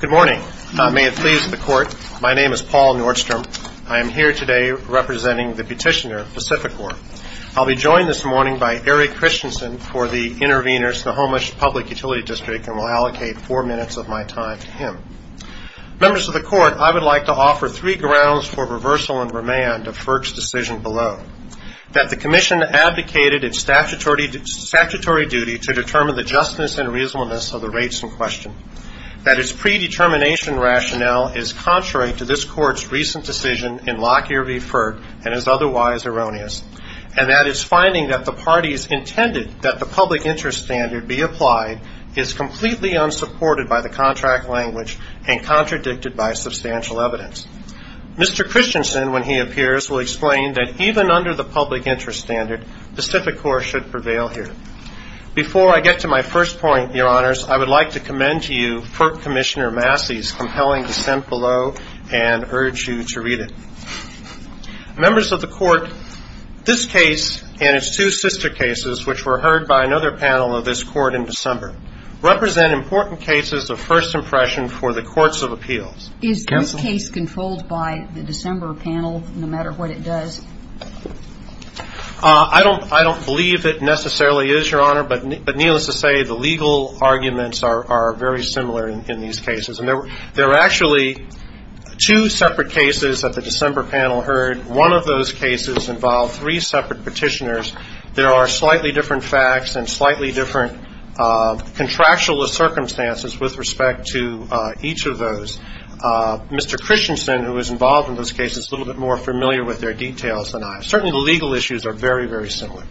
Good morning. May it please the Court, my name is Paul Nordstrom. I am here today representing the petitioner, Pacificorp. I'll be joined this morning by Eric Christensen for the intervenors to the Homeland Public Utility District and will allocate four minutes of my time to him. Members of the Court, I would like to offer three grounds for reversal and remand of FERC's decision below. That the Commission advocated its statutory duty to determine the justness and reasonableness of the rates in question. That its predetermination rationale is contrary to this Court's recent decision in Lockyer v. FERC and is otherwise erroneous. And that its finding that the parties intended that the public interest standard be applied is completely unsupported by the contract language and contradicted by substantial evidence. Mr. Christensen, when he appears, will explain that even under the public interest standard, Pacificorp should prevail here. Before I get to my first point, Your Honors, I would like to commend to you FERC Commissioner Massey's compelling dissent below and urge you to read it. Members of the Court, this case and its two sister cases, which were heard by another panel of this Court in December, represent important cases of first impression for the courts of appeals. Is this case controlled by the December panel, no matter what it does? I don't believe it necessarily is, Your Honor. But needless to say, the legal arguments are very similar in these cases. And there are actually two separate cases that the December panel heard. One of those cases involved three separate petitioners. There are slightly different facts and slightly different contractual circumstances with respect to each of those. Mr. Christensen, who was involved in this case, is a little bit more familiar with their details than I am. Certainly the legal issues are very, very similar.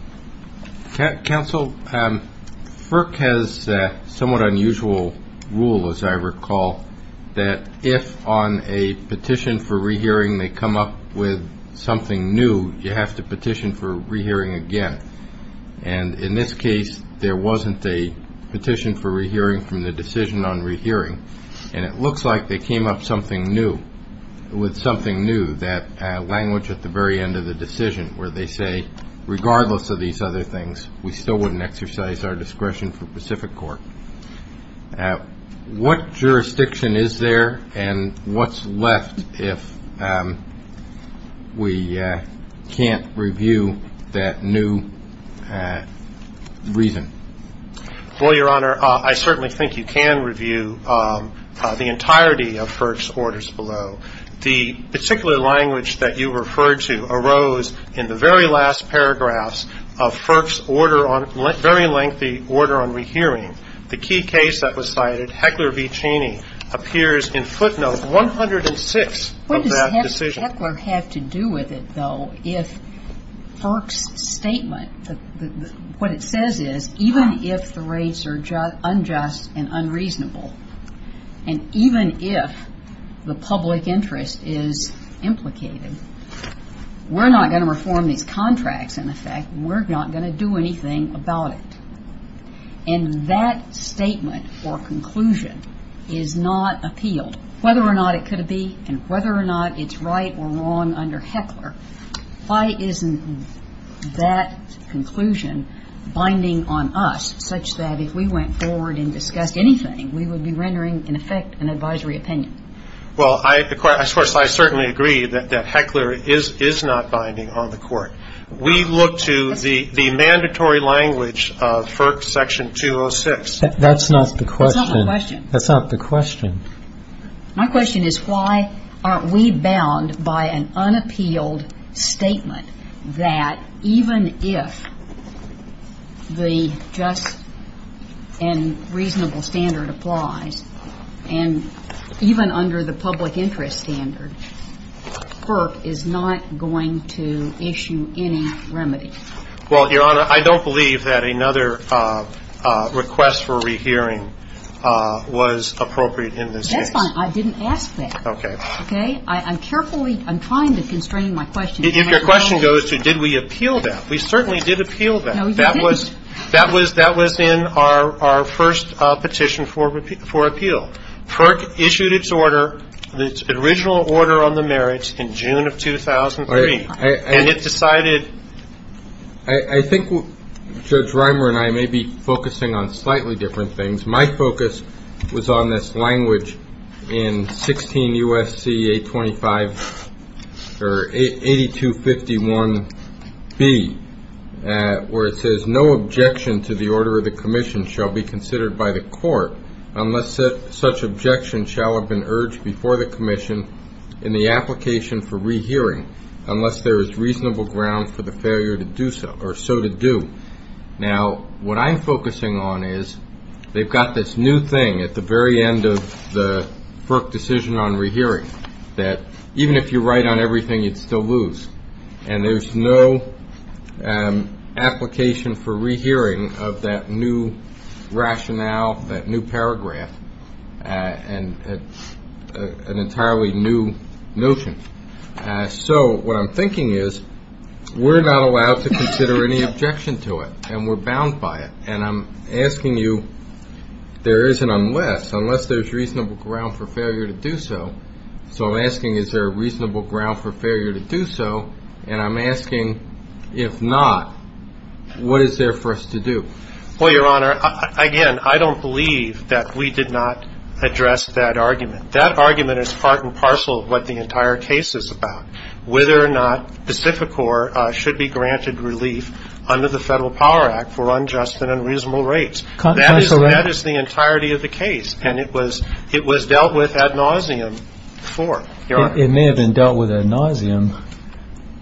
Counsel, FERC has a somewhat unusual rule, as I recall, that if on a petition for rehearing they come up with something new, you have to petition for rehearing again. And in this case, there wasn't a petition for rehearing from the decision on rehearing. And it looks like they came up with something new, that language at the very end of the decision, where they say, regardless of these other things, we still wouldn't exercise our discretion for Pacific Court. What jurisdiction is there and what's left if we can't review that new reason? Well, Your Honor, I certainly think you can review the entirety of FERC's orders below. The particular language that you referred to arose in the very last paragraphs of FERC's order on – very lengthy order on rehearing. The key case that was cited, Heckler v. Cheney, appears in footnote 106 of that decision. What does Heckler have to do with it, though, if FERC's statement – what it says is, even if the rates are unjust and unreasonable, and even if the public interest is implicated, we're not going to reform these contracts, in effect. We're not going to do anything about it. And that statement or conclusion is not appealed. Whether or not it could be and whether or not it's right or wrong under Heckler, why isn't that conclusion binding on us, such that if we went forward and discussed anything, we would be rendering, in effect, an advisory opinion? Well, of course, I certainly agree that Heckler is not binding on the Court. We look to the mandatory language of FERC section 206. That's not the question. That's not the question. My question is, why aren't we bound by an unappealed statement that even if the just and reasonable standard applies, and even under the public interest standard, FERC is not going to issue any remedy? Well, Your Honor, I don't believe that another request for rehearing was appropriate in this case. That's fine. I didn't ask that. Okay. Okay? I'm carefully – I'm trying to constrain my question. If your question goes to did we appeal that, we certainly did appeal that. No, you didn't. That was in our first petition for appeal. FERC issued its order, its original order on the merits, in June of 2003. And it decided – I think Judge Reimer and I may be focusing on slightly different things. My focus was on this language in 16 U.S.C. 825 – or 8251B, where it says, to the order of the commission shall be considered by the court unless such objection shall have been urged before the commission in the application for rehearing unless there is reasonable ground for the failure to do so or so to do. Now, what I'm focusing on is they've got this new thing at the very end of the FERC decision on rehearing that even if you write on everything, you'd still lose. And there's no application for rehearing of that new rationale, that new paragraph, and an entirely new notion. So what I'm thinking is we're not allowed to consider any objection to it, and we're bound by it. And I'm asking you, there is an unless. Unless there's reasonable ground for failure to do so. So I'm asking, is there a reasonable ground for failure to do so? And I'm asking, if not, what is there for us to do? Well, Your Honor, again, I don't believe that we did not address that argument. That argument is part and parcel of what the entire case is about, whether or not Pacificor should be granted relief under the Federal Power Act for unjust and unreasonable rates. That is the entirety of the case. And it was dealt with ad nauseam before, Your Honor. It may have been dealt with ad nauseam,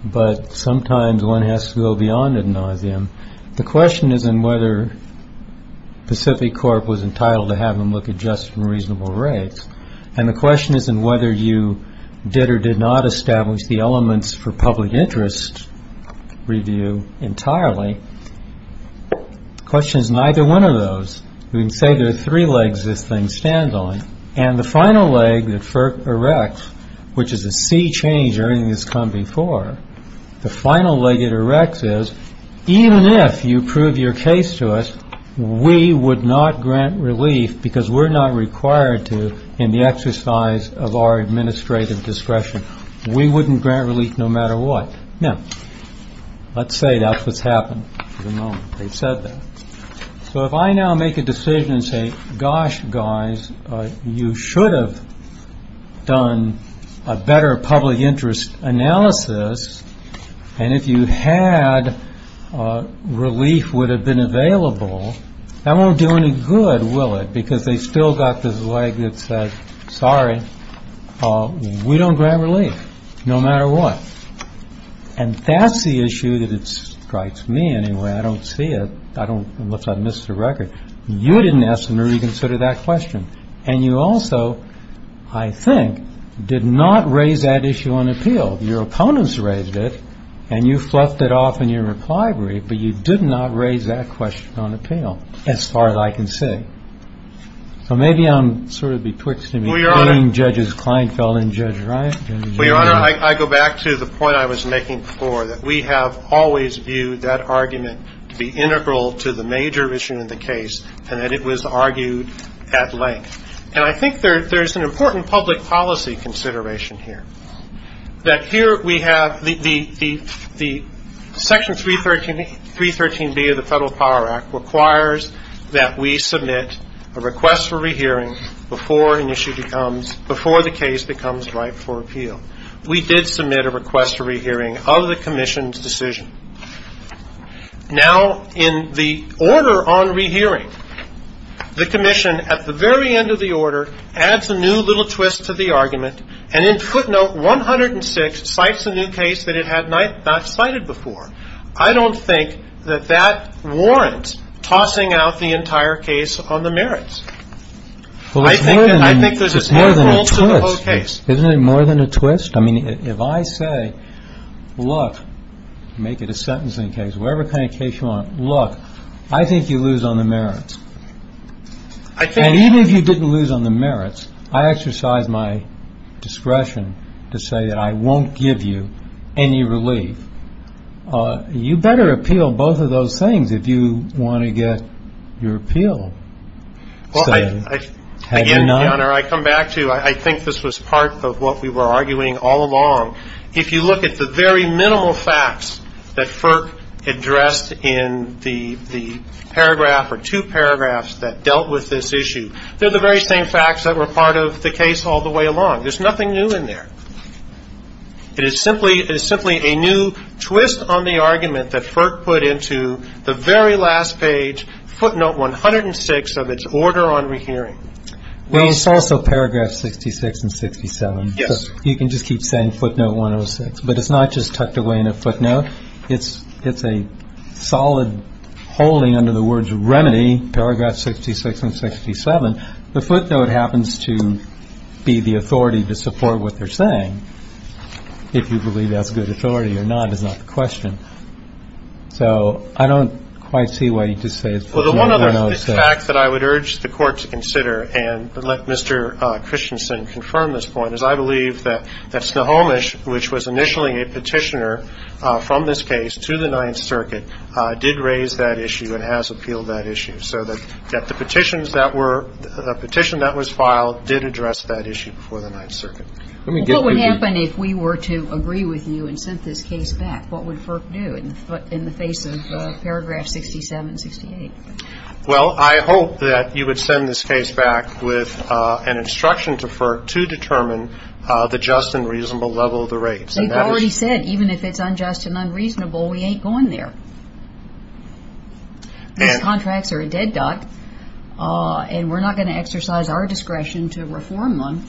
but sometimes one has to go beyond ad nauseam. The question isn't whether Pacificorp was entitled to have them look at just and reasonable rates. And the question isn't whether you did or did not establish the elements for public interest review entirely. The question is neither one of those. We can say there are three legs this thing stands on. And the final leg that FERC erects, which is a sea change or anything that's come before, the final leg it erects is, even if you prove your case to us, we would not grant relief because we're not required to in the exercise of our administrative discretion. We wouldn't grant relief no matter what. Now, let's say that's what's happened for the moment. They've said that. So if I now make a decision and say, gosh, guys, you should have done a better public interest analysis. And if you had, relief would have been available. That won't do any good, will it? Because they still got this leg that says, sorry, we don't grant relief no matter what. And that's the issue that strikes me anyway. I don't see it. Unless I missed the record. You didn't ask and reconsider that question. And you also, I think, did not raise that issue on appeal. Your opponents raised it. And you fluffed it off in your reply brief. But you did not raise that question on appeal as far as I can see. So maybe I'm sort of betwixt being Judge Kleinfeld and Judge Ryan. Well, Your Honor, I go back to the point I was making before, that we have always viewed that argument to be integral to the major issue in the case, and that it was argued at length. And I think there's an important public policy consideration here, that here we have the section 313B of the Federal Power Act requires that we submit a request for rehearing before an issue becomes, before the case becomes ripe for appeal. We did submit a request for rehearing of the Commission's decision. Now, in the order on rehearing, the Commission, at the very end of the order, adds a new little twist to the argument, and in footnote 106, cites a new case that it had not cited before. I don't think that that warrants tossing out the entire case on the merits. I think there's a central to the whole case. Isn't it more than a twist? I mean, if I say, look, make it a sentencing case, whatever kind of case you want, look, I think you lose on the merits. And even if you didn't lose on the merits, I exercise my discretion to say that I won't give you any relief. You better appeal both of those things if you want to get your appeal. So have you not? Well, again, Your Honor, I come back to I think this was part of what we were arguing all along. If you look at the very minimal facts that Firk addressed in the paragraph or two paragraphs that dealt with this issue, they're the very same facts that were part of the case all the way along. There's nothing new in there. It is simply a new twist on the argument that Firk put into the very last page, footnote 106 of its order on rehearing. Well, it's also paragraph 66 and 67. Yes. You can just keep saying footnote 106. But it's not just tucked away in a footnote. It's a solid holding under the words remedy, paragraph 66 and 67. The footnote happens to be the authority to support what they're saying. If you believe that's good authority or not is not the question. Well, the one other fact that I would urge the Court to consider and let Mr. Christensen confirm this point is I believe that Snohomish, which was initially a petitioner from this case to the Ninth Circuit, did raise that issue and has appealed that issue. So that the petitions that were the petition that was filed did address that issue before the Ninth Circuit. What would happen if we were to agree with you and sent this case back? What would Firk do in the face of paragraph 67 and 68? Well, I hope that you would send this case back with an instruction to Firk to determine the just and reasonable level of the rates. You've already said even if it's unjust and unreasonable, we ain't going there. These contracts are a dead dot, and we're not going to exercise our discretion to reform them,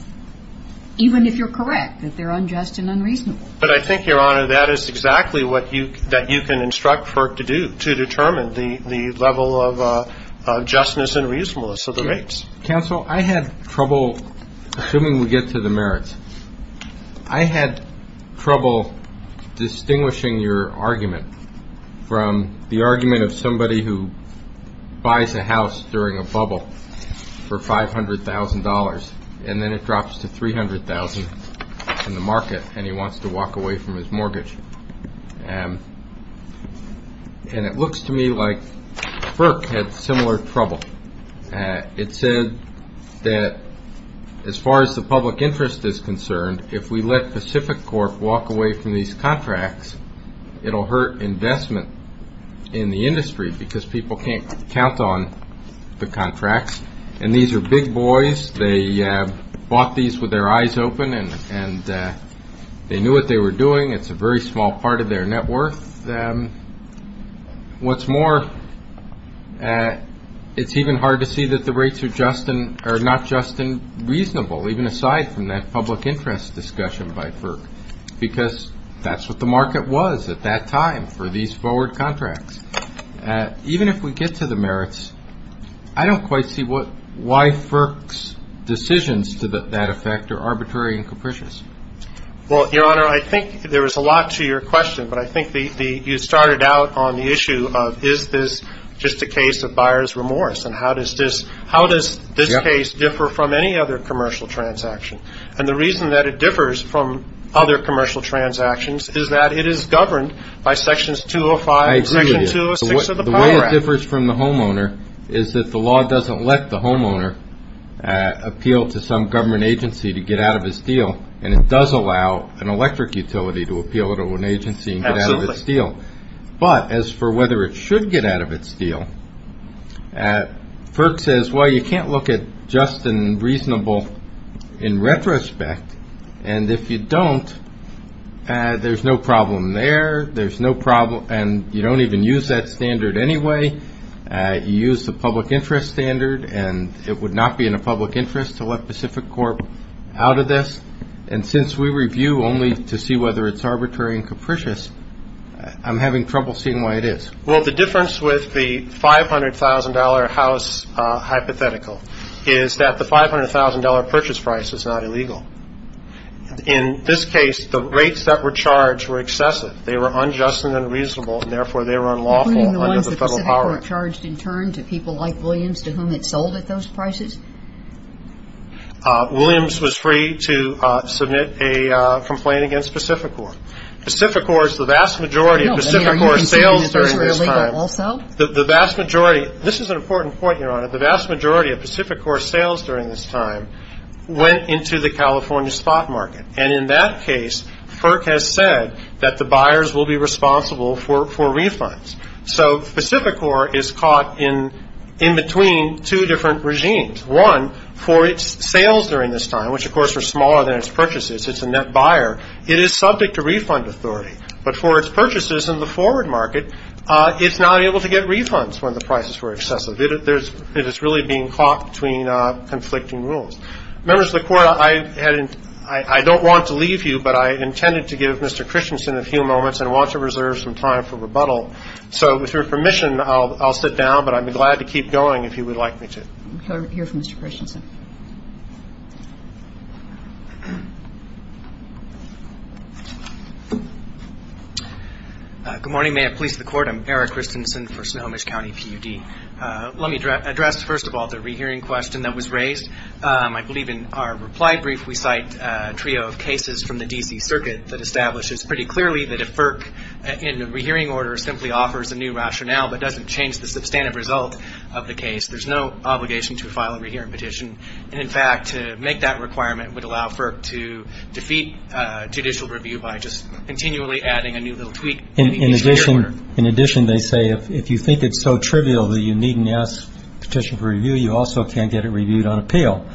even if you're correct that they're unjust and unreasonable. But I think, Your Honor, that is exactly what you can instruct Firk to do, to determine the level of justness and reasonableness of the rates. Counsel, I had trouble, assuming we get to the merits, I had trouble distinguishing your argument from the argument of somebody who buys a house during a bubble for $500,000, and then it drops to $300,000 in the market, and he wants to walk away from his mortgage. And it looks to me like Firk had similar trouble. It said that as far as the public interest is concerned, if we let Pacific Corp. walk away from these contracts, it will hurt investment in the industry because people can't count on the contracts. And these are big boys. They bought these with their eyes open, and they knew what they were doing. It's a very small part of their net worth. What's more, it's even hard to see that the rates are not just and reasonable, even aside from that public interest discussion by Firk, because that's what the market was at that time for these forward contracts. Even if we get to the merits, I don't quite see why Firk's decisions to that effect are arbitrary and capricious. Well, Your Honor, I think there was a lot to your question, but I think you started out on the issue of is this just a case of buyer's remorse, and how does this case differ from any other commercial transaction? And the reason that it differs from other commercial transactions is that it is governed by Sections 205. The way it differs from the homeowner is that the law doesn't let the homeowner appeal to some government agency to get out of his deal, and it does allow an electric utility to appeal to an agency and get out of its deal. But as for whether it should get out of its deal, Firk says, well, you can't look at just and reasonable in retrospect, and if you don't, there's no problem there. There's no problem, and you don't even use that standard anyway. You use the public interest standard, and it would not be in a public interest to let Pacific Corp. out of this. And since we review only to see whether it's arbitrary and capricious, I'm having trouble seeing why it is. Well, the difference with the $500,000 house hypothetical is that the $500,000 purchase price is not illegal. In this case, the rates that were charged were excessive. They were unjust and unreasonable, and therefore they were unlawful under the federal power act. You're pointing the ones that Pacific Corp. charged in turn to people like Williams, to whom it sold at those prices? Williams was free to submit a complaint against Pacific Corp. Pacific Corp. is the vast majority of Pacific Corp. sales during this time. The vast majority, this is an important point, Your Honor, the vast majority of Pacific Corp. sales during this time went into the California spot market. And in that case, Firk has said that the buyers will be responsible for refunds. So Pacific Corp. is caught in between two different regimes. One, for its sales during this time, which of course are smaller than its purchases, it's a net buyer. It is subject to refund authority. But for its purchases in the forward market, it's not able to get refunds when the prices were excessive. It is really being caught between conflicting rules. Members of the Court, I don't want to leave you, but I intended to give Mr. Christensen a few moments and want to reserve some time for rebuttal. So with your permission, I'll sit down, but I'd be glad to keep going if you would like me to. We'll hear from Mr. Christensen. Good morning. May it please the Court, I'm Eric Christensen for Snohomish County PUD. Let me address, first of all, the rehearing question that was raised. I believe in our reply brief we cite a trio of cases from the D.C. Circuit that establishes pretty clearly that if Firk, in a rehearing order, simply offers a new rationale but doesn't change the substantive result of the case, there's no obligation to file a rehearing petition. And, in fact, to make that requirement would allow Firk to defeat judicial review by just continually adding a new little tweak. In addition, they say if you think it's so trivial that you needn't ask petition for review, you also can't get it reviewed on appeal.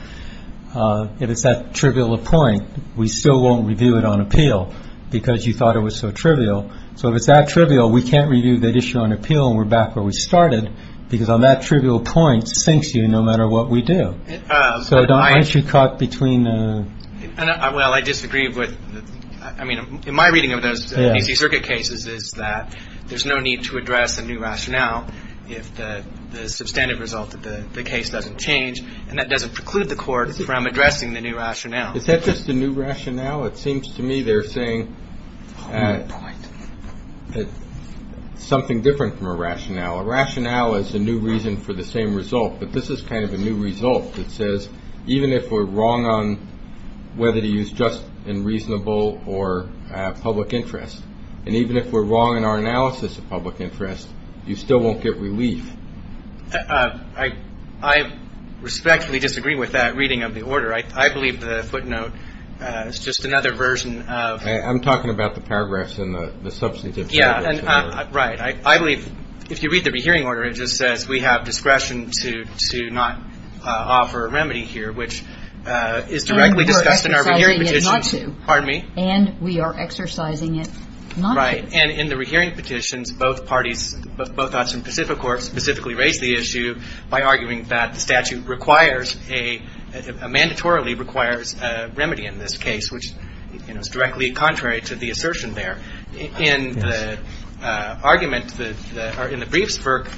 If it's that trivial a point, we still won't review it on appeal because you thought it was so trivial. So if it's that trivial, we can't review that issue on appeal and we're back where we started because on that trivial point it sinks you no matter what we do. So, Don, aren't you caught between? Well, I disagree with – I mean, in my reading of those D.C. Circuit cases is that there's no need to address a new rationale if the substantive result of the case doesn't change and that doesn't preclude the Court from addressing the new rationale. Is that just a new rationale? A rationale is a new reason for the same result, but this is kind of a new result. It says even if we're wrong on whether to use just and reasonable or public interest, and even if we're wrong in our analysis of public interest, you still won't get relief. I respectfully disagree with that reading of the order. I believe the footnote is just another version of – I'm talking about the paragraphs in the substantive – Right. I believe if you read the rehearing order, it just says we have discretion to not offer a remedy here, which is directly discussed in our rehearing petitions. And we are exercising it not to. Pardon me? And we are exercising it not to. Right. And in the rehearing petitions, both parties, both odds from Pacific Corps, specifically raised the issue by arguing that the statute requires a – mandatorily requires a remedy in this case, which is directly contrary to the assertion there. And the argument in the briefs work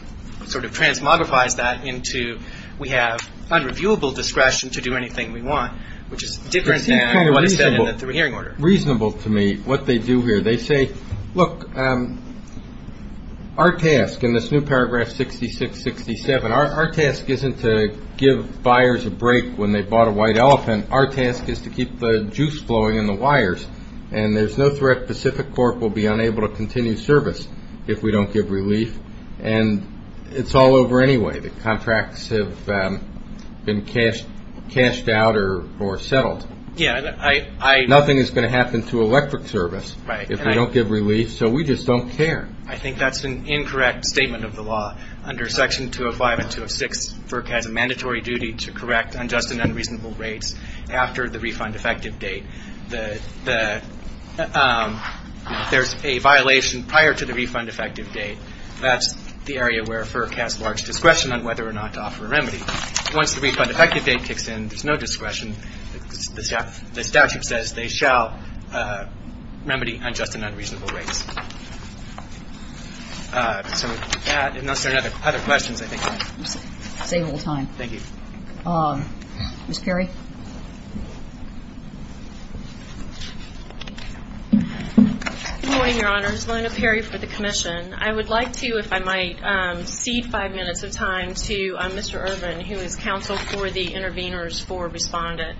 sort of transmogrifies that into we have unreviewable discretion to do anything we want, which is different than what is said in the rehearing order. Reasonable to me what they do here. They say, look, our task in this new paragraph 66-67, our task isn't to give buyers a break when they bought a white elephant. Our task is to keep the juice flowing in the wires. And there's no threat Pacific Corp will be unable to continue service if we don't give relief. And it's all over anyway. The contracts have been cashed out or settled. Yeah. Nothing is going to happen to electric service if we don't give relief. So we just don't care. I think that's an incorrect statement of the law. Under Section 205 and 206, FERC has a mandatory duty to correct unjust and unreasonable rates after the refund effective date. There's a violation prior to the refund effective date. That's the area where FERC has large discretion on whether or not to offer a remedy. Once the refund effective date kicks in, there's no discretion. The statute says they shall remedy unjust and unreasonable rates. So with that, unless there are other questions, I think we're going to save a little time. Thank you. Ms. Perry? Good morning, Your Honors. Lona Perry for the Commission. I would like to, if I might, cede five minutes of time to Mr. Irvin, who is counsel for the interveners for Respondent.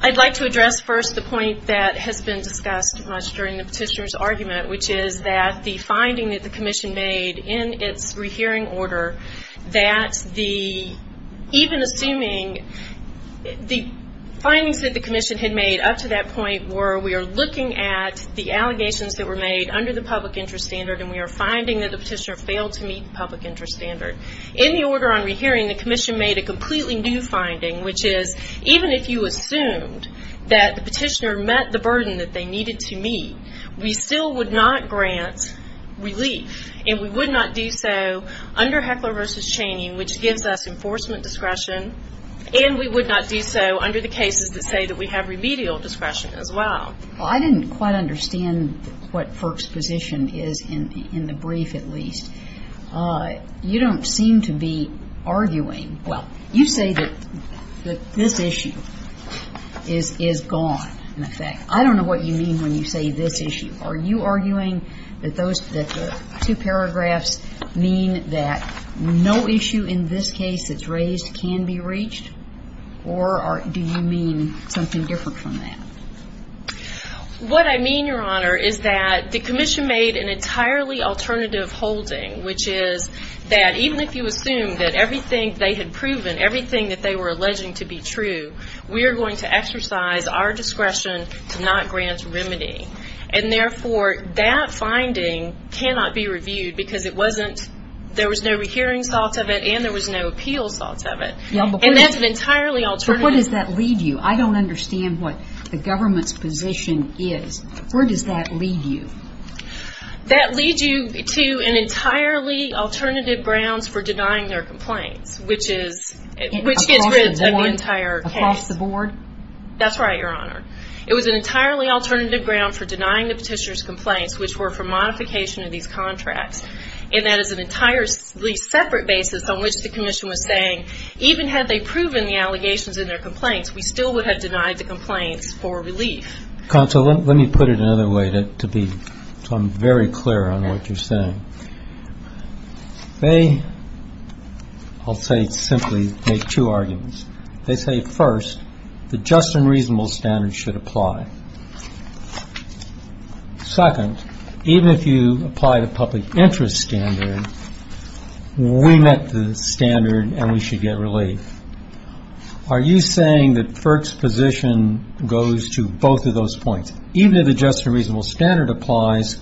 I'd like to address first the point that has been discussed much during the petitioner's argument, which is that the finding that the Commission made in its rehearing order, that even assuming the findings that the Commission had made up to that point were we are looking at the allegations that were made under the public interest standard and we are finding that the petitioner failed to meet the public interest standard. In the order on rehearing, the Commission made a completely new finding, which is even if you assumed that the petitioner met the burden that they needed to meet, we still would not grant relief and we would not do so under Heckler v. Chaney, which gives us enforcement discretion, and we would not do so under the cases that say that we have remedial discretion as well. Well, I didn't quite understand what FERC's position is, in the brief at least. You don't seem to be arguing. Well, you say that this issue is gone, in effect. I don't know what you mean when you say this issue. Are you arguing that the two paragraphs mean that no issue in this case that's raised can be reached, or do you mean something different from that? What I mean, Your Honor, is that the Commission made an entirely alternative holding, which is that even if you assume that everything they had proven, everything that they were alleging to be true, we are going to exercise our discretion to not grant remedy, and therefore that finding cannot be reviewed because there was no hearing sought of it and there was no appeals sought of it. And that's an entirely alternative. But where does that lead you? I don't understand what the government's position is. Where does that lead you? That leads you to an entirely alternative grounds for denying their complaints, which gets rid of the entire case. Across the board? That's right, Your Honor. It was an entirely alternative ground for denying the petitioner's complaints, which were for modification of these contracts, and that is an entirely separate basis on which the Commission was saying, even had they proven the allegations in their complaints, we still would have denied the complaints for relief. Counsel, let me put it another way to be very clear on what you're saying. They, I'll say simply, make two arguments. They say, first, the just and reasonable standard should apply. Second, even if you apply the public interest standard, we met the standard and we should get relief. Are you saying that FERC's position goes to both of those points? One, even if the just and reasonable standard applies,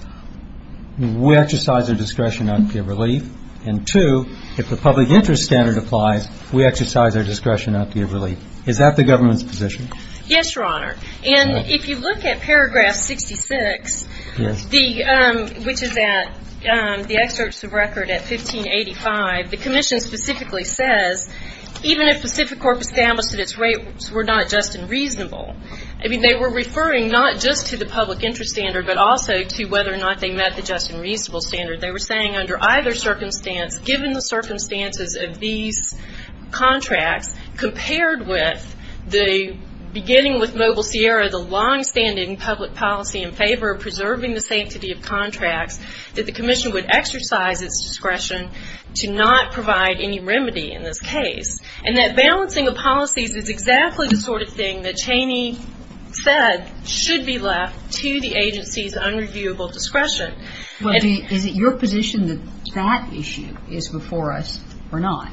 we exercise our discretion not to give relief. And two, if the public interest standard applies, we exercise our discretion not to give relief. Is that the government's position? Yes, Your Honor. And if you look at paragraph 66, which is at the excerpts of record at 1585, the Commission specifically says, even if Pacific Corp established that its rapes were not just and reasonable, I mean, they were referring not just to the public interest standard, but also to whether or not they met the just and reasonable standard. They were saying under either circumstance, given the circumstances of these contracts compared with the beginning with Mobile Sierra, the longstanding public policy in favor of preserving the sanctity of contracts, that the Commission would exercise its discretion to not provide any remedy in this case. And that balancing of policies is exactly the sort of thing that Cheney said should be left to the agency's unreviewable discretion. Is it your position that that issue is before us or not?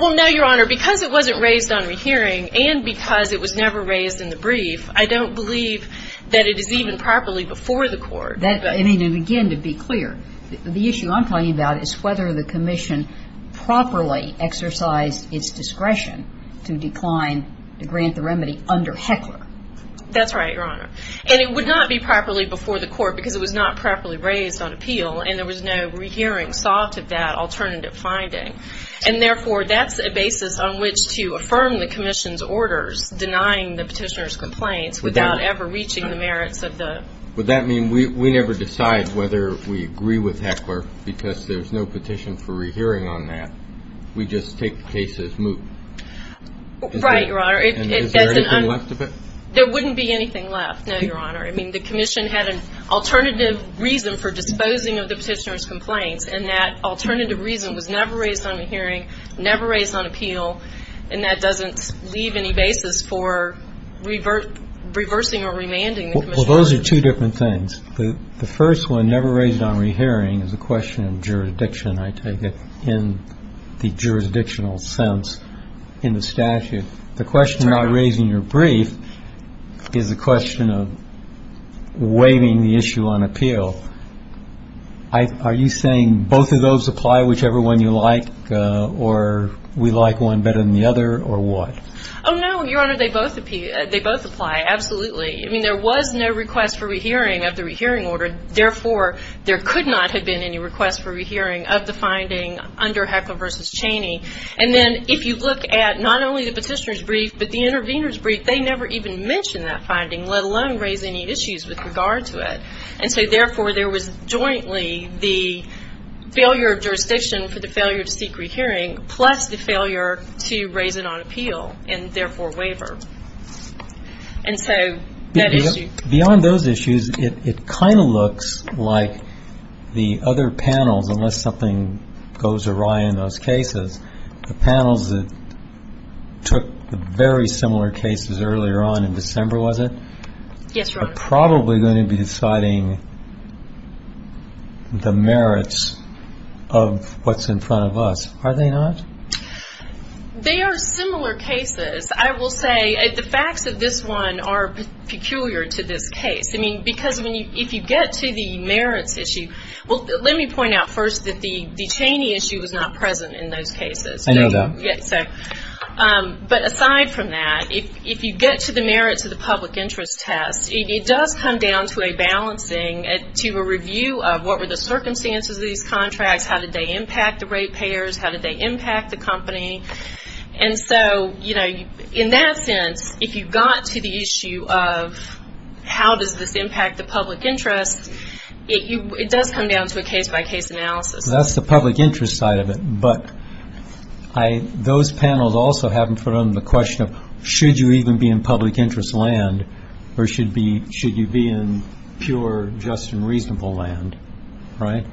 Well, no, Your Honor. Because it wasn't raised on a hearing and because it was never raised in the brief, I don't believe that it is even properly before the Court. I mean, again, to be clear, the issue I'm talking about is whether the Commission properly exercised its discretion to decline to grant the remedy under Heckler. That's right, Your Honor. And it would not be properly before the Court because it was not properly raised on appeal and there was no rehearing sought of that alternative finding. And therefore, that's a basis on which to affirm the Commission's orders denying the petitioner's complaints without ever reaching the merits of the. Would that mean we never decide whether we agree with Heckler because there's no petition for rehearing on that? We just take the case as moot? Right, Your Honor. Is there anything left of it? There wouldn't be anything left, no, Your Honor. I mean, the Commission had an alternative reason for disposing of the petitioner's complaints and that alternative reason was never raised on a hearing, never raised on appeal, Well, those are two different things. The first one, never raised on rehearing, is a question of jurisdiction, I take it, in the jurisdictional sense in the statute. The question of not raising your brief is a question of waiving the issue on appeal. Are you saying both of those apply, whichever one you like, or we like one better than the other, or what? Oh, no, Your Honor. They both apply. Absolutely. I mean, there was no request for rehearing of the rehearing order. Therefore, there could not have been any request for rehearing of the finding under Heckler v. Cheney. And then if you look at not only the petitioner's brief but the intervener's brief, they never even mention that finding, let alone raise any issues with regard to it. And so, therefore, there was jointly the failure of jurisdiction for the failure to seek rehearing, plus the failure to raise it on appeal and, therefore, waiver. And so that issue. Beyond those issues, it kind of looks like the other panels, unless something goes awry in those cases, the panels that took the very similar cases earlier on in December, was it? Yes, Your Honor. Are probably going to be deciding the merits of what's in front of us, are they not? They are similar cases. I will say the facts of this one are peculiar to this case. I mean, because if you get to the merits issue, well, let me point out first that the Cheney issue was not present in those cases. I know that. But aside from that, if you get to the merits of the public interest test, it does come down to a balancing, to a review of what were the circumstances of these contracts, how did they impact the rate payers, how did they impact the company. And so, you know, in that sense, if you got to the issue of how does this impact the public interest, it does come down to a case-by-case analysis. That's the public interest side of it. But those panels also have in front of them the question of should you even be in public interest land or should you be in pure, just, and reasonable land, right?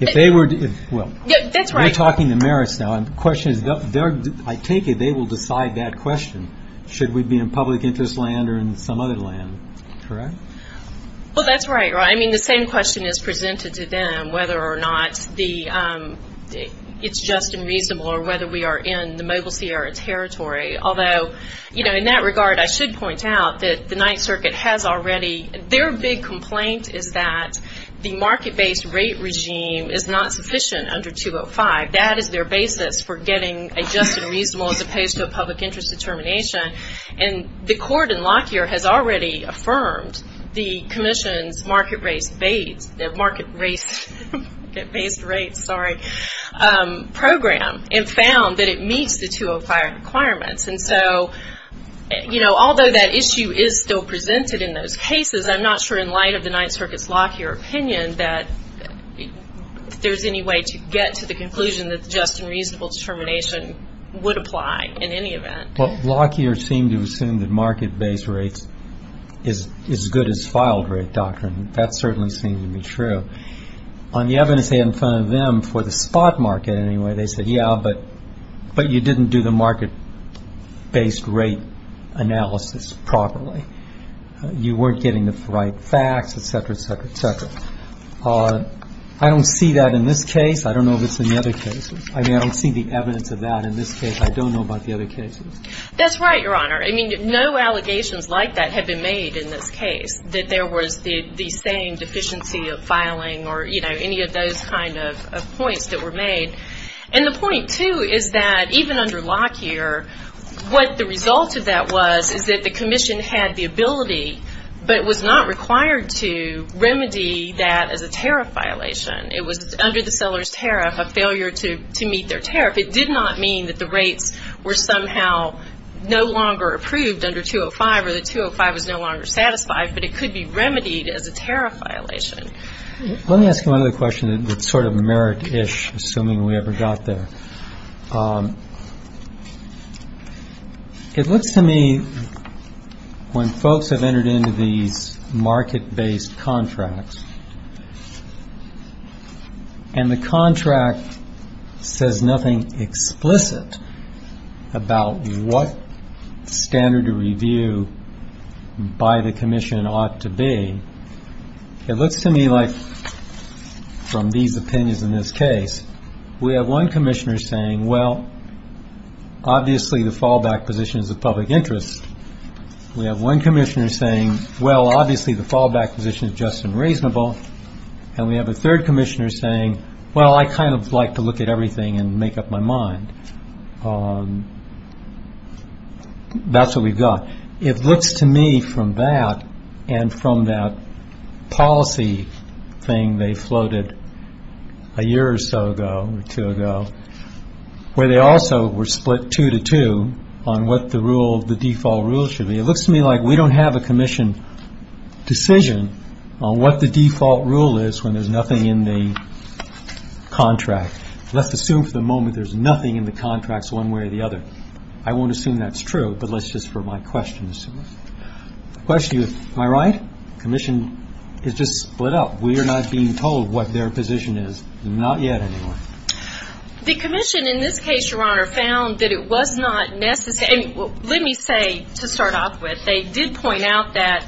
If they were to, well. That's right. We're talking the merits now. The question is, I take it they will decide that question, should we be in public interest land or in some other land, correct? Well, that's right. I mean, the same question is presented to them, whether or not it's just and reasonable or whether we are in the Mobile Sierra Territory. Although, you know, in that regard, I should point out that the Ninth Circuit has already, their big complaint is that the market-based rate regime is not sufficient under 205. That is their basis for getting a just and reasonable as opposed to a public interest determination. And the court in Lockyer has already affirmed the commission's market-based rates program and found that it meets the 205 requirements. And so, you know, although that issue is still presented in those cases, I'm not sure in light of the Ninth Circuit's Lockyer opinion that there's any way to get to the conclusion that just and reasonable determination would apply in any event. Well, Lockyer seemed to assume that market-based rates is as good as filed rate doctrine. That certainly seemed to be true. On the evidence they had in front of them for the spot market anyway, they said, yeah, but you didn't do the market-based rate analysis properly. You weren't getting the right facts, et cetera, et cetera, et cetera. I don't see that in this case. I don't know if it's in the other cases. I mean, I don't see the evidence of that in this case. I don't know about the other cases. That's right, Your Honor. I mean, no allegations like that have been made in this case, that there was the same deficiency of filing or, you know, any of those kind of points that were made. And the point, too, is that even under Lockyer, what the result of that was is that the commission had the ability but was not required to remedy that as a tariff violation. It was under the seller's tariff, a failure to meet their tariff. It did not mean that the rates were somehow no longer approved under 205 or that 205 was no longer satisfied, but it could be remedied as a tariff violation. Let me ask you another question that's sort of merit-ish, assuming we ever got there. It looks to me, when folks have entered into these market-based contracts and the contract says nothing explicit about what standard of review by the commission ought to be, it looks to me like, from these opinions in this case, we have one commissioner saying, well, obviously the fallback position is of public interest. We have one commissioner saying, well, obviously the fallback position is just and reasonable. And we have a third commissioner saying, well, I kind of like to look at everything and make up my mind. That's what we've got. It looks to me from that and from that policy thing they floated a year or so ago or two ago, where they also were split two to two on what the rule, the default rule should be, it looks to me like we don't have a commission decision on what the default rule is when there's nothing in the contract. Let's assume for the moment there's nothing in the contracts one way or the other. I won't assume that's true, but let's just for my questions. The question is, am I right? The commission is just split up. We are not being told what their position is. Not yet, anyway. The commission in this case, Your Honor, found that it was not necessary. Let me say, to start off with, they did point out that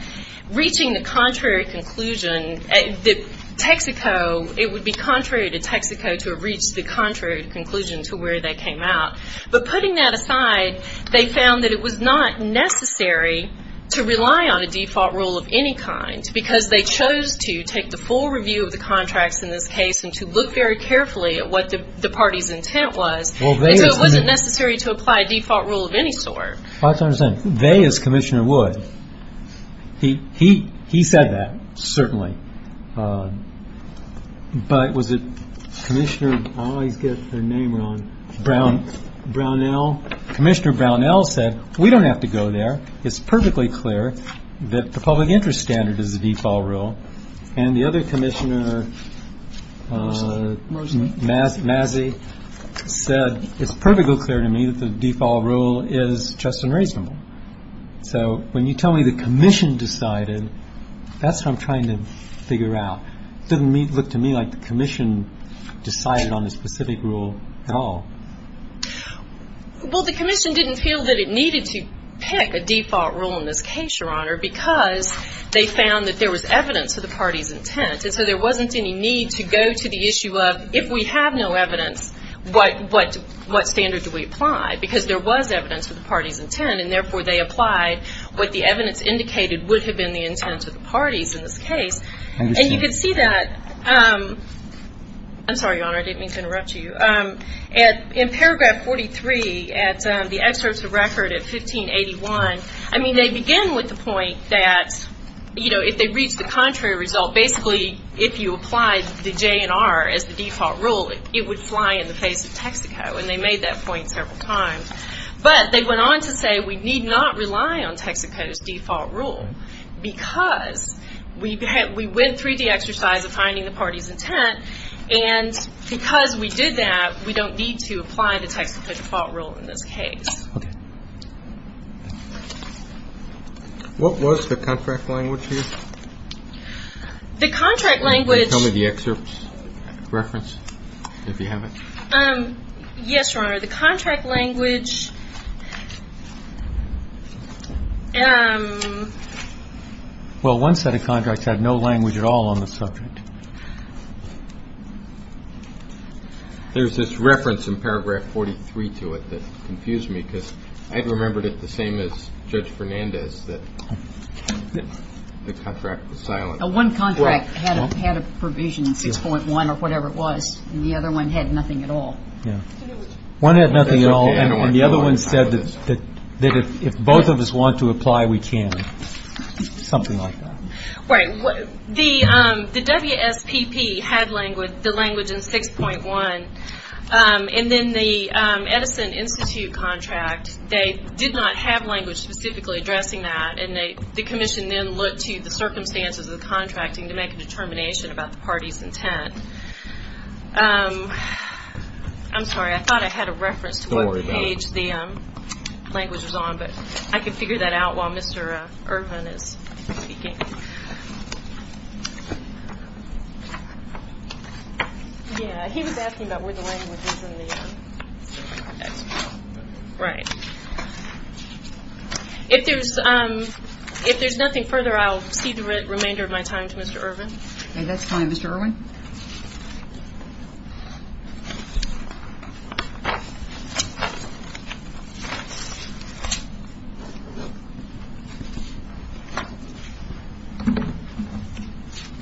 reaching the contrary conclusion, that Texaco, it would be contrary to Texaco to have reached the contrary conclusion to where that came out. But putting that aside, they found that it was not necessary to rely on a default rule of any kind because they chose to take the full review of the contracts in this case and to look very carefully at what the party's intent was, and so it wasn't necessary to apply a default rule of any sort. They, as Commissioner Wood, he said that, certainly. But was it Commissioner? I always get their name wrong. Brown. Brownell. Commissioner Brownell said, we don't have to go there. It's perfectly clear that the public interest standard is the default rule. And the other commissioner, Masey, said, it's perfectly clear to me that the default rule is just unreasonable. So when you tell me the commission decided, that's what I'm trying to figure out. It doesn't look to me like the commission decided on a specific rule at all. Well, the commission didn't feel that it needed to pick a default rule in this case, Your Honor, because they found that there was evidence of the party's intent, and so there wasn't any need to go to the issue of, if we have no evidence, what standard do we apply? Because there was evidence of the party's intent, and, therefore, they applied what the evidence indicated would have been the intent of the parties in this case. And you can see that. I'm sorry, Your Honor, I didn't mean to interrupt you. In paragraph 43 at the excerpts of record at 1581, I mean, they begin with the point that, you know, if they reach the contrary result, basically, if you applied the JNR as the default rule, it would fly in the face of Texaco, and they made that point several times. But they went on to say we need not rely on Texaco's default rule, because we went through the exercise of finding the party's intent, and because we did that, we don't need to apply the Texaco default rule in this case. Okay. What was the contract language here? The contract language. Can you tell me the excerpt's reference, if you have it? Yes, Your Honor. The contract language. Well, one set of contracts had no language at all on the subject. There's this reference in paragraph 43 to it that confused me, because I remembered it the same as Judge Fernandez, that the contract was silent. One contract had a provision in 6.1 or whatever it was, and the other one had nothing at all. Yeah. One had nothing at all, and the other one said that if both of us want to apply, we can, something like that. Right. The WSPP had the language in 6.1, and then the Edison Institute contract, they did not have language specifically addressing that, and the commission then looked to the circumstances of the contracting to make a determination about the party's intent. I'm sorry. I thought I had a reference to what page the language was on, but I can figure that out while Mr. Irwin is speaking. Yeah, he was asking about where the language is in the excerpt. Right. If there's nothing further, I'll cede the remainder of my time to Mr. Irwin. Okay, that's fine. Mr. Irwin.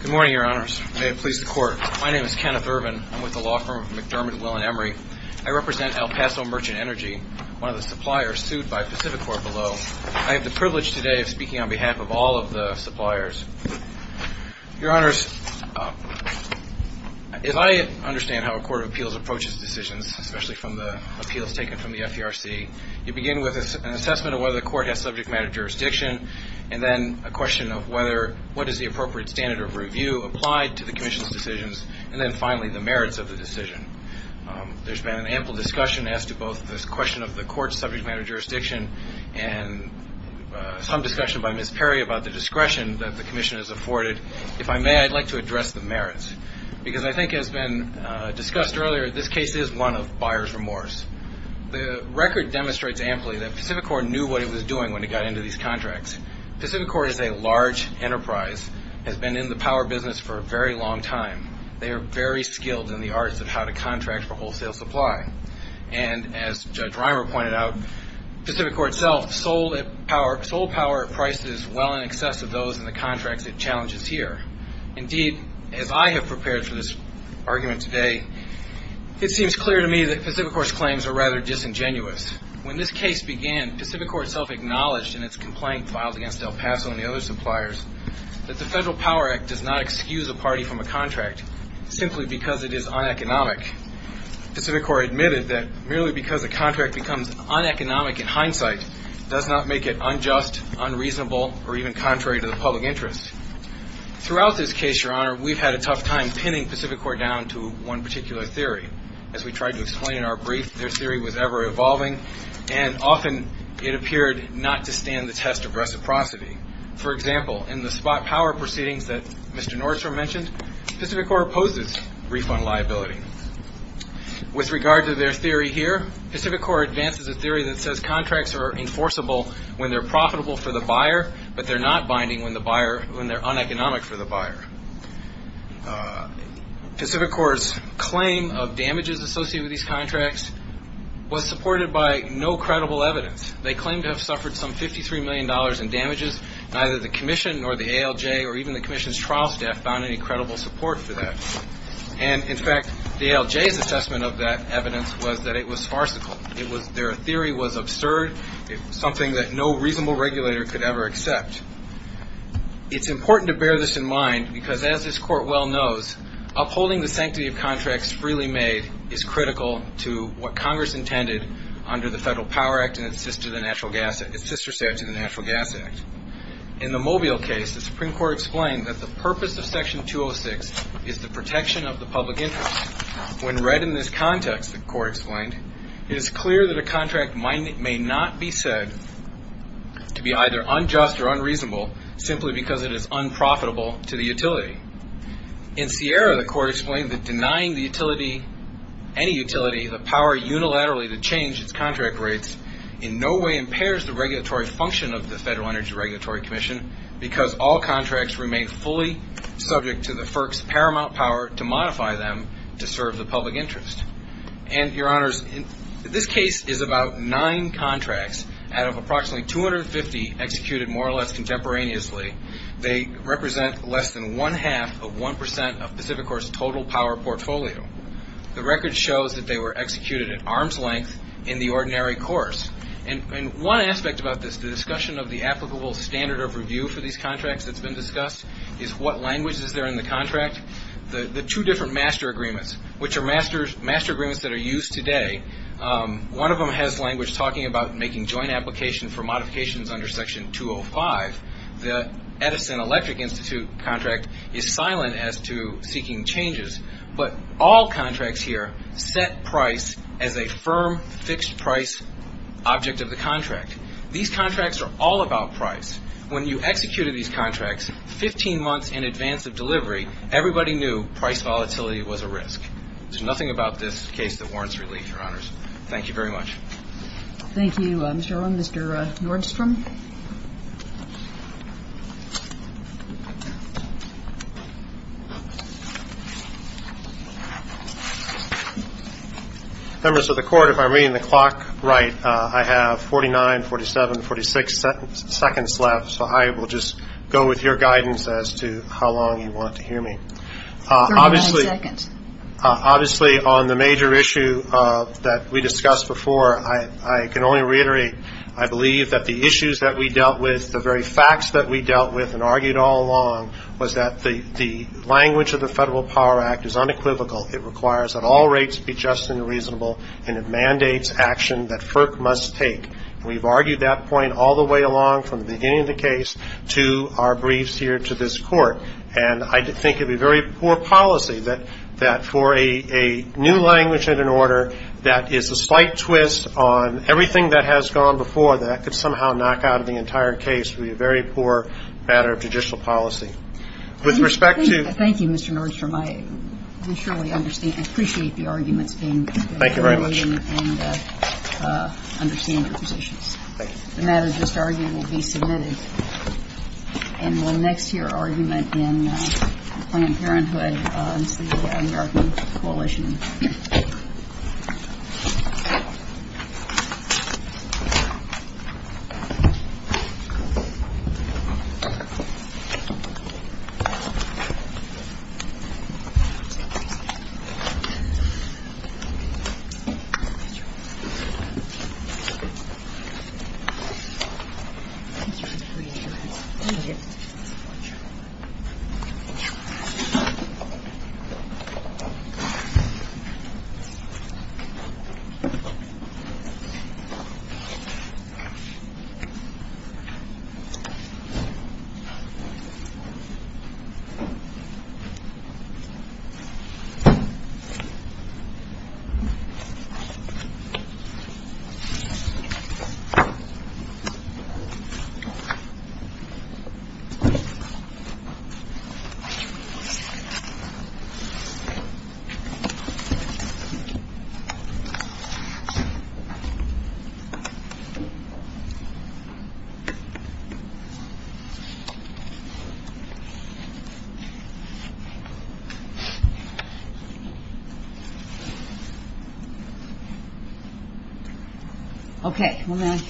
Good morning, Your Honors. May it please the Court. My name is Kenneth Irwin. I'm with the law firm of McDermott, Will and Emery. I represent El Paso Merchant Energy, one of the suppliers sued by Pacificorp below. I have the privilege today of speaking on behalf of all of the suppliers. Your Honors, as I understand how a court of appeals approaches decisions, especially from the appeals taken from the FERC, you begin with an assessment of whether the court has subject matter jurisdiction, and then a question of what is the appropriate standard of review applied to the commission's decisions, and then finally the merits of the decision. There's been an ample discussion as to both this question of the court's subject matter jurisdiction and some discussion by Ms. Perry about the discretion that the commission has afforded. If I may, I'd like to address the merits, because I think as has been discussed earlier, this case is one of buyer's remorse. The record demonstrates amply that Pacificorp knew what it was doing when it got into these contracts. Pacificorp is a large enterprise, has been in the power business for a very long time. They are very skilled in the arts of how to contract for wholesale supply, and as Judge Reimer pointed out, Pacificorp itself sold power at prices well in excess of those in the contracts it challenges here. Indeed, as I have prepared for this argument today, it seems clear to me that Pacificorp's claims are rather disingenuous. When this case began, Pacificorp itself acknowledged in its complaint filed against El Paso and the other suppliers that the Federal Power Act does not excuse a party from a contract simply because it is uneconomic. Pacificorp admitted that merely because a contract becomes uneconomic in hindsight does not make it unjust, unreasonable, or even contrary to the public interest. Throughout this case, Your Honor, we've had a tough time pinning Pacificorp down to one particular theory. As we tried to explain in our brief, their theory was ever-evolving, and often it appeared not to stand the test of reciprocity. For example, in the spot power proceedings that Mr. Nordstrom mentioned, Pacificorp opposes refund liability. With regard to their theory here, Pacificorp advances a theory that says contracts are enforceable when they're profitable for the buyer, but they're not binding when they're uneconomic for the buyer. Pacificorp's claim of damages associated with these contracts was supported by no credible evidence. They claim to have suffered some $53 million in damages. Neither the commission nor the ALJ or even the commission's trial staff found any credible support for that. And, in fact, the ALJ's assessment of that evidence was that it was farcical. Their theory was absurd, something that no reasonable regulator could ever accept. It's important to bear this in mind because, as this Court well knows, upholding the sanctity of contracts freely made is critical to what Congress intended under the Federal Power Act and its sister statute, the Natural Gas Act. In the Mobile case, the Supreme Court explained that the purpose of Section 206 is the protection of the public interest. When read in this context, the Court explained, it is clear that a contract may not be said to be either unjust or unreasonable simply because it is unprofitable to the utility. In Sierra, the Court explained that denying the utility, any utility, the power unilaterally to change its contract rates in no way impairs the regulatory function of the Federal Energy Regulatory Commission because all contracts remain fully subject to the FERC's paramount power to modify them to serve the public interest. And, Your Honors, this case is about nine contracts out of approximately 250 executed more or less contemporaneously. They represent less than one-half of 1% of Pacific Corps' total power portfolio. The record shows that they were executed at arm's length in the ordinary course. And one aspect about this, the discussion of the applicable standard of review for these contracts that's been discussed, is what language is there in the contract. The two different master agreements, which are master agreements that are used today, one of them has language talking about making joint application for modifications under Section 205. The Edison Electric Institute contract is silent as to seeking changes, but all contracts here set price as a firm, fixed price object of the contract. These contracts are all about price. When you executed these contracts 15 months in advance of delivery, everybody knew price volatility was a risk. There's nothing about this case that warrants relief, Your Honors. Thank you very much. Thank you, Mr. Irwin. Mr. Nordstrom. Members of the Court, if I'm reading the clock right, I have 49, 47, 46 seconds left, so I will just go with your guidance as to how long you want to hear me. Thirty-nine seconds. Obviously, on the major issue that we discussed before, I can only reiterate, I believe that the issues that we dealt with, the very facts that we dealt with and argued all along was that the language of the Federal Power Act is unequivocal. It requires that all rates be just and reasonable, and it mandates action that FERC must take. We've argued that point all the way along from the beginning of the case to our briefs here to this Court, and I think it would be very poor policy that for a new language and an order that is a slight twist on everything that has gone before, that could somehow knock out of the entire case. It would be a very poor matter of judicial policy. With respect to ---- Thank you, Mr. Nordstrom. I surely understand. I appreciate the arguments being made. Thank you very much. And I understand your positions. Thank you. The matter just argued will be submitted. And we'll next hear argument in Planned Parenthood and the New York Coalition. Thank you.